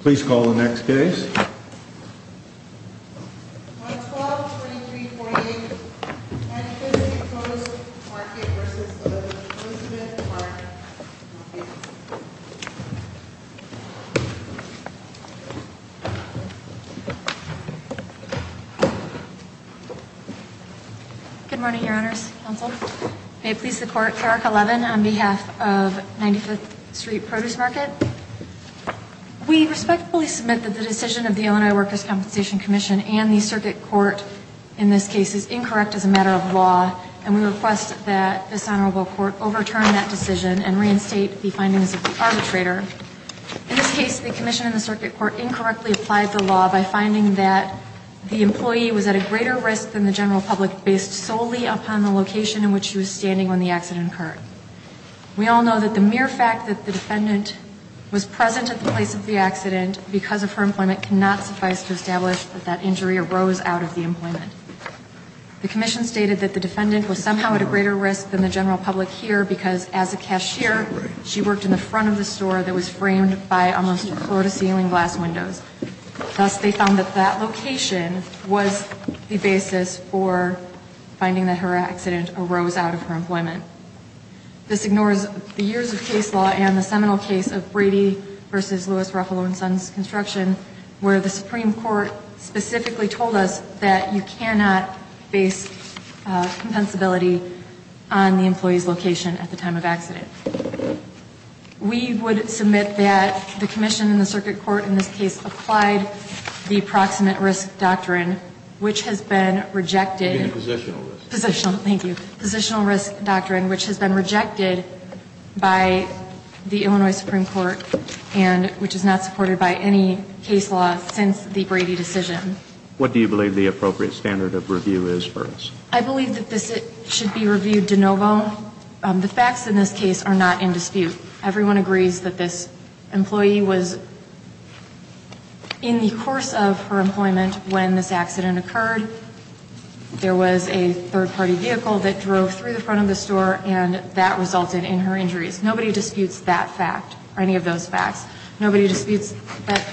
Please call the next case. On 12-2348, 95th Street Produce Market v. Elizabeth Park. Good morning, Your Honors. May it please the Court, Clerk 11, on behalf of 95th Street Produce Market. We respectfully submit that the decision of the Illinois Workers' Compensation Commission and the Circuit Court in this case is incorrect as a matter of law, and we request that this Honorable Court overturn that decision and reinstate the findings of the arbitrator. In this case, the Commission and the Circuit Court incorrectly applied the law by finding that the employee was at a greater risk than the general public based solely upon the location in which she was standing when the accident occurred. We all know that the mere fact that the defendant was present at the place of the accident because of her employment cannot suffice to establish that that injury arose out of the employment. The Commission stated that the defendant was somehow at a greater risk than the general public here because as a cashier, she worked in the front of the store that was framed by almost floor-to-ceiling glass windows. Thus, they found that that location was the basis for finding that her accident arose out of her employment. This ignores the years of case law and the seminal case of Brady v. Lewis, Ruffalo & Sons Construction, where the Supreme Court specifically told us that you cannot base compensability on the employee's location at the time of accident. We would submit that the Commission and the Circuit Court in this case applied the Proximate Risk Doctrine, which has been rejected. Even the Positional Risk. Positional, thank you. Positional Risk Doctrine, which has been rejected by the Illinois Supreme Court and which is not supported by any case law since the Brady decision. What do you believe the appropriate standard of review is for us? I believe that this should be reviewed de novo. The facts in this case are not in dispute. Everyone agrees that this employee was in the course of her employment when this accident occurred. There was a third-party vehicle that drove through the front of the store, and that resulted in her injuries. Nobody disputes that fact or any of those facts. Nobody disputes that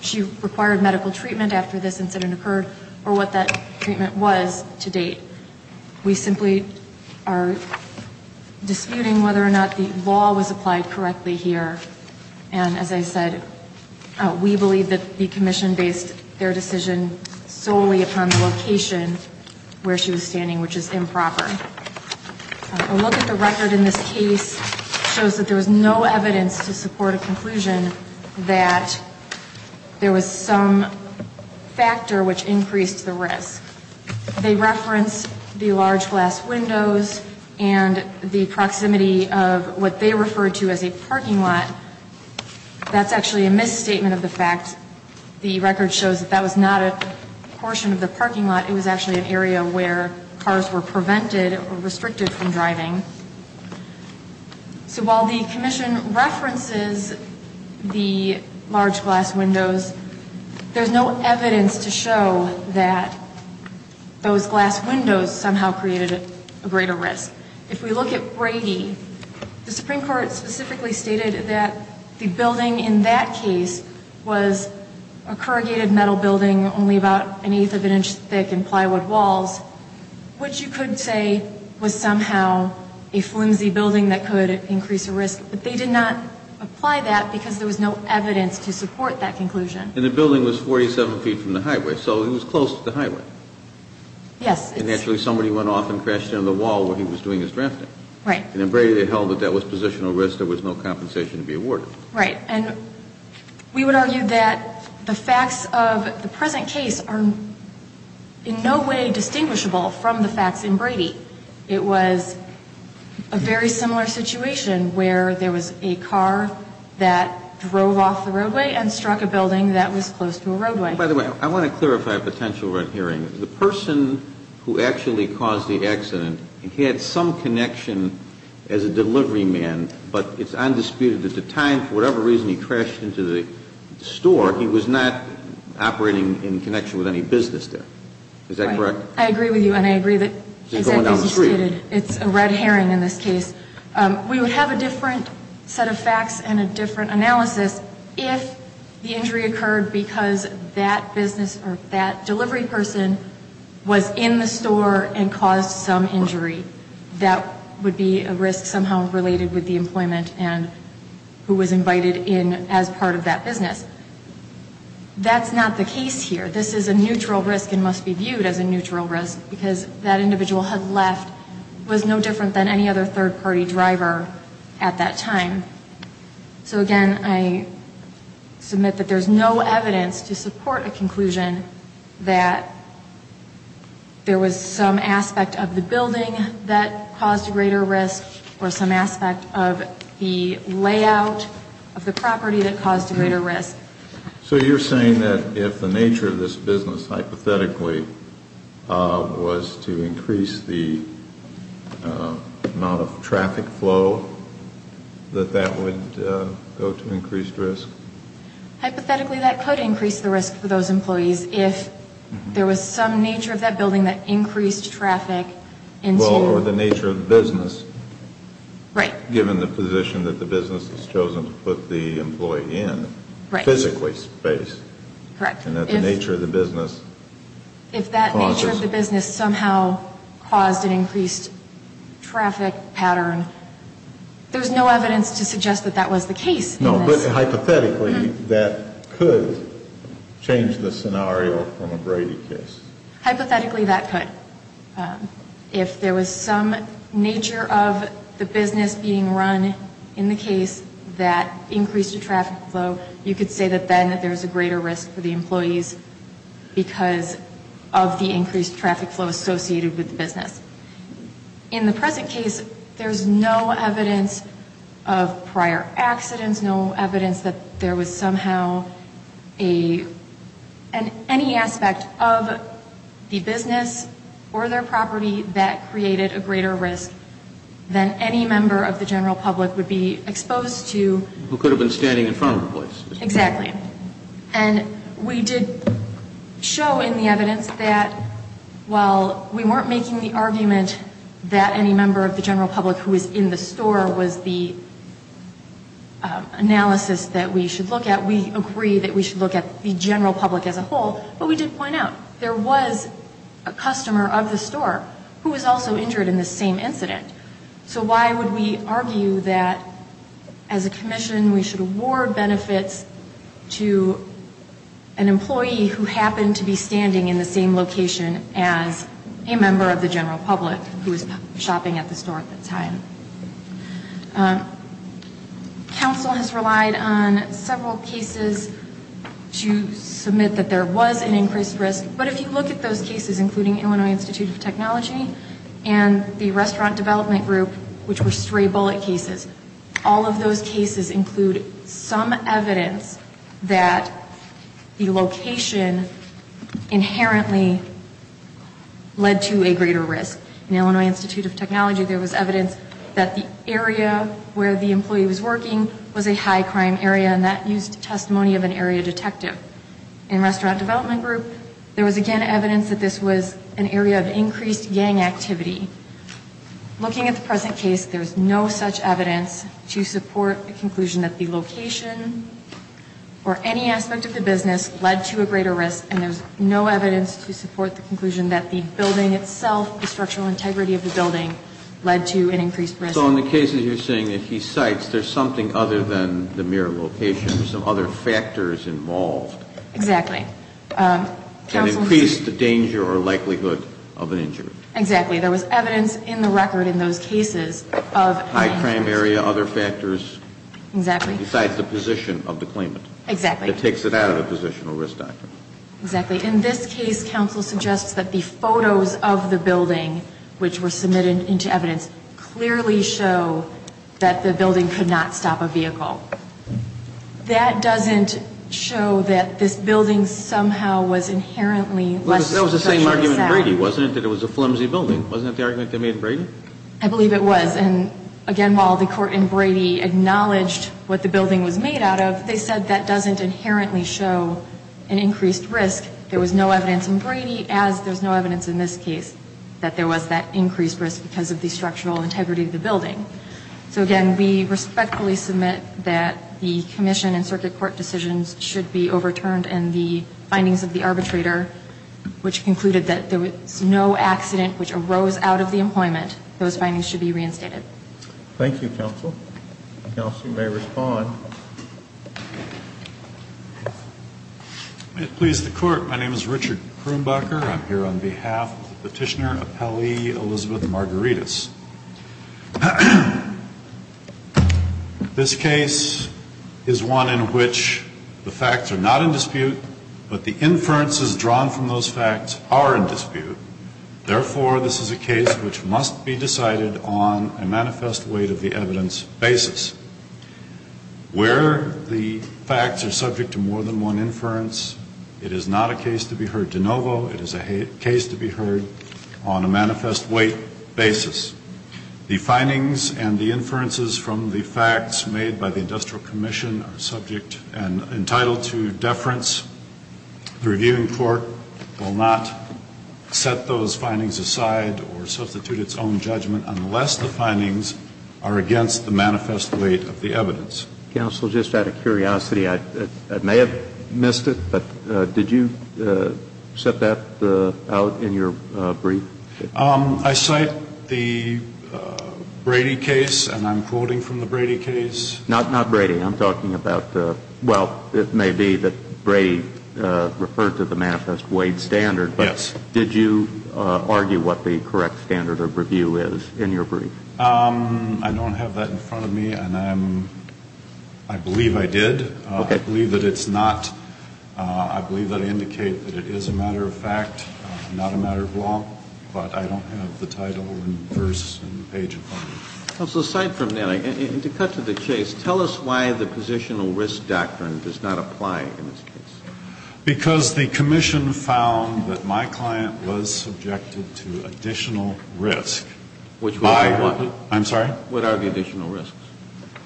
she required medical treatment after this incident occurred or what that treatment was to date. We simply are disputing whether or not the law was applied correctly here. And as I said, we believe that the Commission based their decision solely upon the location where she was standing, which is improper. A look at the record in this case shows that there was no evidence to support a conclusion that there was some factor which increased the risk. They reference the large glass windows and the proximity of what they refer to as a parking lot. That's actually a misstatement of the fact. The record shows that that was not a portion of the parking lot. It was actually an area where cars were prevented or restricted from driving. So while the Commission references the large glass windows, there's no evidence to show that those glass windows somehow created a greater risk. If we look at Brady, the Supreme Court specifically stated that the building in that case was a corrugated metal building, only about an eighth of an inch thick and plywood walls, which you could say was somehow a flimsy building that could increase the risk. But they did not apply that because there was no evidence to support that conclusion. And the building was 47 feet from the highway, so it was close to the highway. Yes. And naturally somebody went off and crashed into the wall where he was doing his drafting. Right. And then Brady held that that was positional risk. There was no compensation to be awarded. Right. And we would argue that the facts of the present case are in no way distinguishable from the facts in Brady. It was a very similar situation where there was a car that drove off the roadway and struck a building that was close to a roadway. By the way, I want to clarify a potential red herring. The person who actually caused the accident, he had some connection as a delivery man, but it's undisputed that at the time, for whatever reason, he crashed into the store. He was not operating in connection with any business there. Is that correct? I agree with you, and I agree that, as you stated, it's a red herring in this case. We would have a different set of facts and a different analysis if the injury occurred because that business or that delivery person was in the store and caused some injury. That would be a risk somehow related with the employment and who was invited in as part of that business. That's not the case here. This is a neutral risk and must be viewed as a neutral risk because that individual had left, was no different than any other third-party driver at that time. So, again, I submit that there's no evidence to support a conclusion that there was some aspect of the building that caused a greater risk or some aspect of the layout of the property that caused a greater risk. So you're saying that if the nature of this business, hypothetically, was to increase the amount of traffic flow, that that would go to increased risk? Hypothetically, that could increase the risk for those employees if there was some nature of that building that increased traffic. Or the nature of the business, given the position that the business has chosen to put the employee in, physically space. Correct. And that the nature of the business causes. If that nature of the business somehow caused an increased traffic pattern, there's no evidence to suggest that that was the case in this. No, but hypothetically, that could change the scenario from a Brady case. Hypothetically, that could. If there was some nature of the business being run in the case that increased the traffic flow, you could say that then there's a greater risk for the employees because of the increased traffic flow associated with the business. In the present case, there's no evidence of prior accidents, no evidence that there was somehow any aspect of the business or their property that created a greater risk than any member of the general public would be exposed to. Who could have been standing in front of the place. Exactly. And we did show in the evidence that while we weren't making the argument that any member of the general public who was in the store was the analysis that we should look at, we agree that we should look at the general public as a whole, but we did point out there was a customer of the store who was also injured in the same incident. So why would we argue that as a commission we should award benefits to an employee who happened to be standing in the same location as a member of the general public who was shopping at the store at the time? Council has relied on several cases to submit that there was an increased risk, but if you look at those cases, including Illinois Institute of Technology and the restaurant development group, which were stray bullet cases, all of those cases include some evidence that the location inherently led to a greater risk. In Illinois Institute of Technology there was evidence that the area where the employee was working was a high crime area and that used testimony of an area detective. In restaurant development group, there was again evidence that this was an area of increased gang activity. Looking at the present case, there is no such evidence to support the conclusion that the location or any aspect of the business led to a greater risk, and there's no evidence to support the conclusion that the building itself, the structural integrity of the building, led to an increased risk. So in the cases you're saying that he cites, there's something other than the mere location. There's some other factors involved. Exactly. To increase the danger or likelihood of an injury. Exactly. There was evidence in the record in those cases of high crime area, other factors. Exactly. Besides the position of the claimant. Exactly. That takes it out of the positional risk doctrine. Exactly. In this case, counsel suggests that the photos of the building, which were submitted into evidence, clearly show that the building could not stop a vehicle. That doesn't show that this building somehow was inherently less. That was the same argument in Brady, wasn't it, that it was a flimsy building? Wasn't that the argument they made in Brady? I believe it was. Again, while the court in Brady acknowledged what the building was made out of, they said that doesn't inherently show an increased risk. There was no evidence in Brady, as there's no evidence in this case, that there was that increased risk because of the structural integrity of the building. So, again, we respectfully submit that the commission and circuit court decisions should be overturned and the findings of the arbitrator, which concluded that there was no accident which arose out of the employment, those findings should be reinstated. Thank you, counsel. Counsel may respond. May it please the Court. My name is Richard Krumbacher. I'm here on behalf of the Petitioner Appellee Elizabeth Margaritas. This case is one in which the facts are not in dispute, but the inferences drawn from those facts are in dispute. Therefore, this is a case which must be decided on a manifest weight of the evidence basis. Where the facts are subject to more than one inference, it is not a case to be heard de novo. It is a case to be heard on a manifest weight basis. The findings and the inferences from the facts made by the Industrial Commission are subject and entitled to deference. The reviewing court will not set those findings aside or substitute its own judgment unless the findings are against the manifest weight of the evidence. Counsel, just out of curiosity, I may have missed it, but did you set that out in your brief? I cite the Brady case, and I'm quoting from the Brady case. Not Brady. Well, it may be that Brady referred to the manifest weight standard, but did you argue what the correct standard of review is in your brief? I don't have that in front of me, and I believe I did. I believe that it's not. I believe that I indicate that it is a matter of fact, not a matter of law, but I don't have the title and verse and page in front of me. Counsel, aside from that, to cut to the chase, tell us why the positional risk doctrine does not apply in this case. Because the Commission found that my client was subjected to additional risk. Which was what? I'm sorry? What are the additional risks?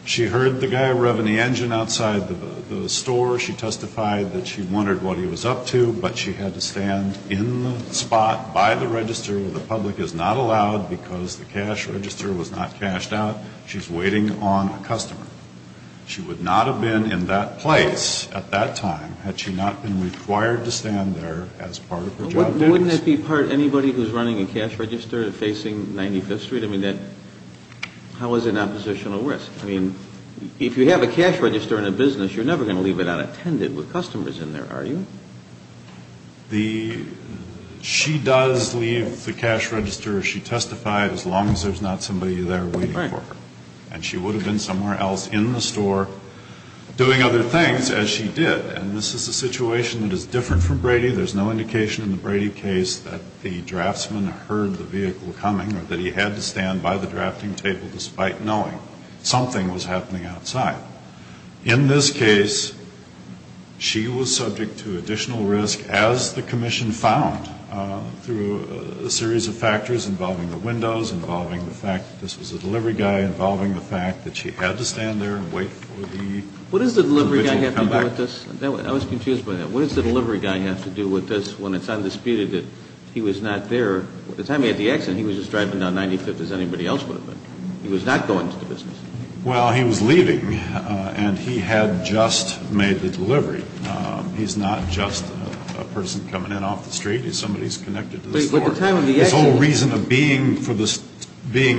She heard the guy revving the engine outside the store. She testified that she wondered what he was up to, but she had to stand in the spot by the register where the public is not allowed because the cash register was not cashed out. She's waiting on a customer. She would not have been in that place at that time had she not been required to stand there as part of her job duties. Wouldn't that be part of anybody who's running a cash register facing 95th Street? I mean, how is it not positional risk? I mean, if you have a cash register in a business, you're never going to leave it unattended with customers in there, are you? She does leave the cash register. She testified as long as there's not somebody there waiting for her. And she would have been somewhere else in the store doing other things, as she did. And this is a situation that is different from Brady. There's no indication in the Brady case that the draftsman heard the vehicle coming or that he had to stand by the drafting table despite knowing something was happening outside. In this case, she was subject to additional risk, as the commission found through a series of factors involving the windows, involving the fact that this was a delivery guy, involving the fact that she had to stand there and wait for the individual to come back. What does the delivery guy have to do with this? I was confused by that. What does the delivery guy have to do with this when it's undisputed that he was not there? By the time he had the accident, he was just driving down 95th as anybody else would have been. He was not going to the business. Well, he was leaving, and he had just made the delivery. He's not just a person coming in off the street. He's somebody who's connected to the store. His whole reason of being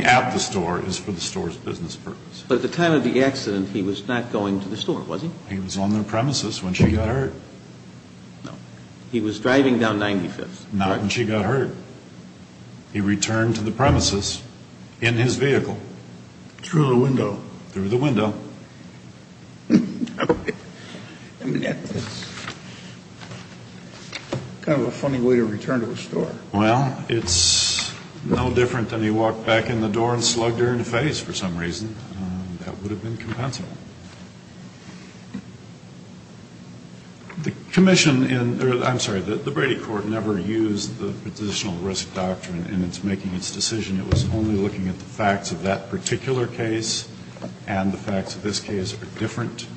at the store is for the store's business purpose. But at the time of the accident, he was not going to the store, was he? He was on the premises when she got hurt. No. He was driving down 95th. Not when she got hurt. He returned to the premises in his vehicle. Through the window. Through the window. Okay. I mean, that's kind of a funny way to return to a store. Well, it's no different than he walked back in the door and slugged her in the face for some reason. That would have been compensable. The commission in the Brady court never used the positional risk doctrine in its making its decision. It was only looking at the facts of that particular case and the facts of this case are different.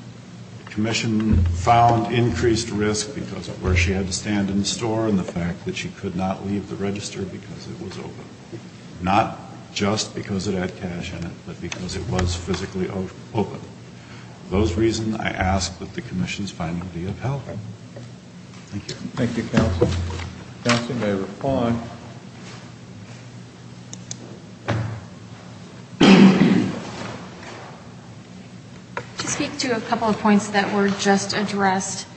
The commission found increased risk because of where she had to stand in the store and the fact that she could not leave the register because it was open. Not just because it had cash in it, but because it was physically open. For those reasons, I ask that the commission's finding be of help. Thank you. Thank you, counsel. Counsel may reply. To speak to a couple of points that were just addressed,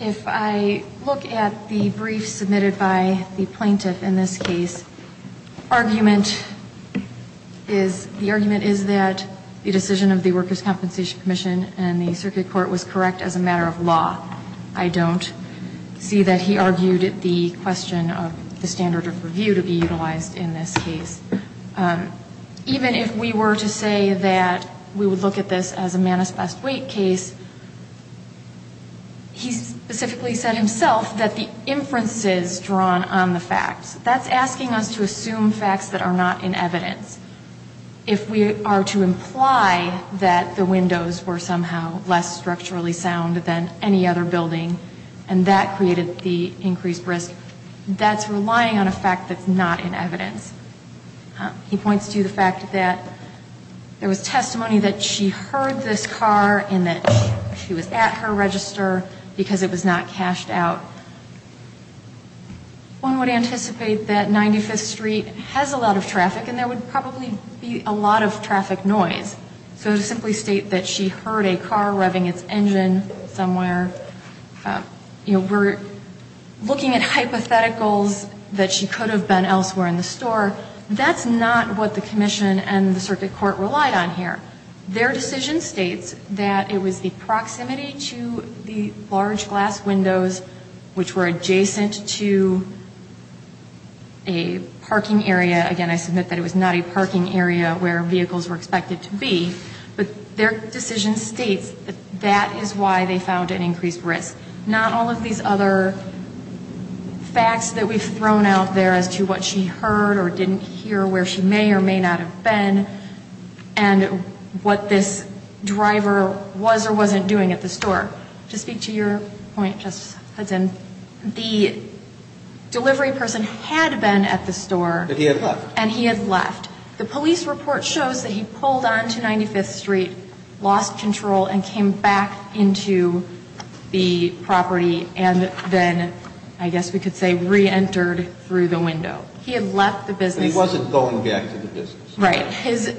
if I look at the brief submitted by the plaintiff in this case, the argument is that the decision of the Workers' Compensation Commission and the circuit court was correct as a matter of law. I don't see that he argued the question of the standard of review to be utilized in this case. Even if we were to say that we would look at this as a manis best wait case, he specifically said himself that the inferences drawn on the facts, that's asking us to assume facts that are not in evidence. If we are to imply that the windows were somehow less structurally sound than any other building and that created the increased risk, that's relying on a fact that's not in evidence. He points to the fact that there was testimony that she heard this car and that she was at her register because it was not cashed out. One would anticipate that 95th Street has a lot of traffic and there would probably be a lot of traffic noise. So to simply state that she heard a car revving its engine somewhere, we're looking at hypotheticals that she could have been elsewhere in the store. That's not what the commission and the circuit court relied on here. Their decision states that it was the proximity to the large glass windows which were adjacent to a parking area. Again, I submit that it was not a parking area where vehicles were expected to be. But their decision states that that is why they found an increased risk. Not all of these other facts that we've thrown out there as to what she heard or didn't hear where she may or may not have been. And what this driver was or wasn't doing at the store. To speak to your point, Justice Hudson, the delivery person had been at the store. But he had left. And he had left. The police report shows that he pulled onto 95th Street, lost control and came back into the property and then I guess we could say reentered through the window. He had left the business. But he wasn't going back to the business. Right. His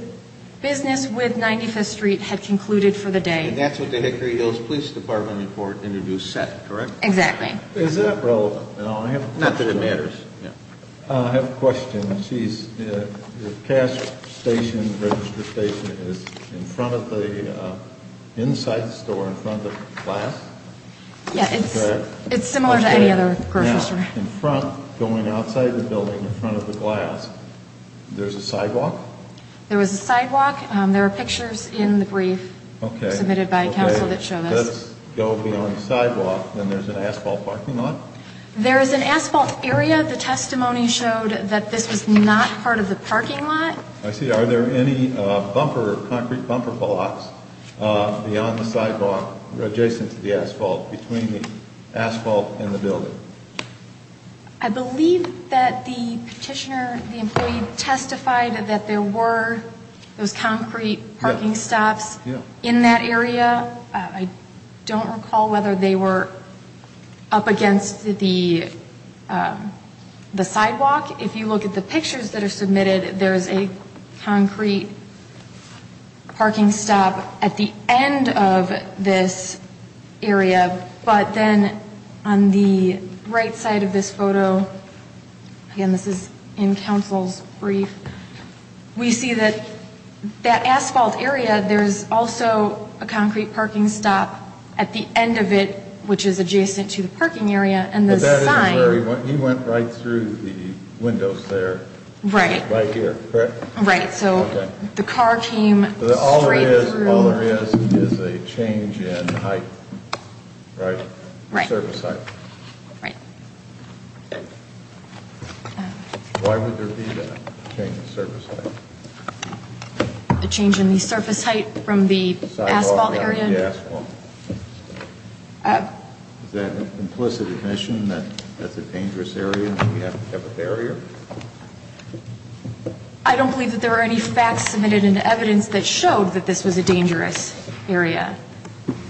business with 95th Street had concluded for the day. And that's what the Hickory Hills Police Department report introduced set, correct? Exactly. Is that relevant? Not that it matters. I have a question. The cash station, register station is in front of the inside store, in front of the glass? Yeah. It's similar to any other grocery store. In front, going outside the building in front of the glass, there's a sidewalk? There was a sidewalk. There are pictures in the brief submitted by counsel that show this. Okay. Let's go beyond the sidewalk. And there's an asphalt parking lot? There is an asphalt area. The testimony showed that this was not part of the parking lot. I see. Are there any bumper, concrete bumper blocks beyond the sidewalk, adjacent to the asphalt, between the asphalt and the building? I believe that the petitioner, the employee, testified that there were those concrete parking stops in that area. I don't recall whether they were up against the sidewalk. If you look at the pictures that are submitted, there's a concrete parking stop at the end of this area. But then on the right side of this photo, again, this is in counsel's brief, we see that that asphalt area, there's also a concrete parking stop at the end of it, which is adjacent to the parking area. But that isn't where he went. He went right through the windows there. Right. Right here, correct? Right. Okay. So the car came straight through. All there is is a change in height, right? Right. Surface height. Right. Why would there be a change in surface height? A change in the surface height from the asphalt area? Sidewalk, not the asphalt. Is that an implicit admission that that's a dangerous area and that we have to have a barrier? I don't believe that there were any facts submitted into evidence that showed that this was a dangerous area.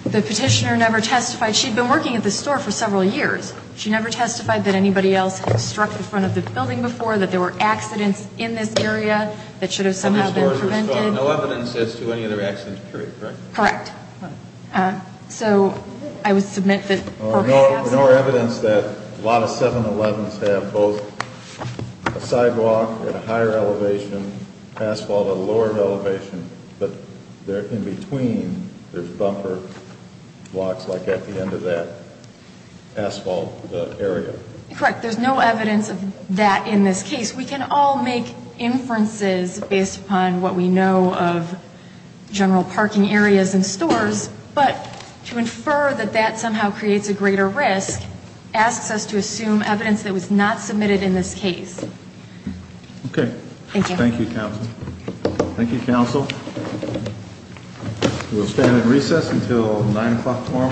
The petitioner never testified. She had been working at this store for several years. She never testified that anybody else had struck the front of the building before, that there were accidents in this area that should have somehow been prevented. No evidence as to any other accidents, correct? Correct. So I would submit that the purpose of the asphalt. No evidence that a lot of 7-Elevens have both a sidewalk at a higher elevation, asphalt at a lower elevation, but in between there's bumper blocks like at the end of that asphalt area. Correct. There's no evidence of that in this case. We can all make inferences based upon what we know of general parking areas and stores, but to infer that that somehow creates a greater risk asks us to assume evidence that was not submitted in this case. Thank you. Thank you, Counsel. Thank you, Counsel. We'll stand at recess until 9 o'clock tomorrow.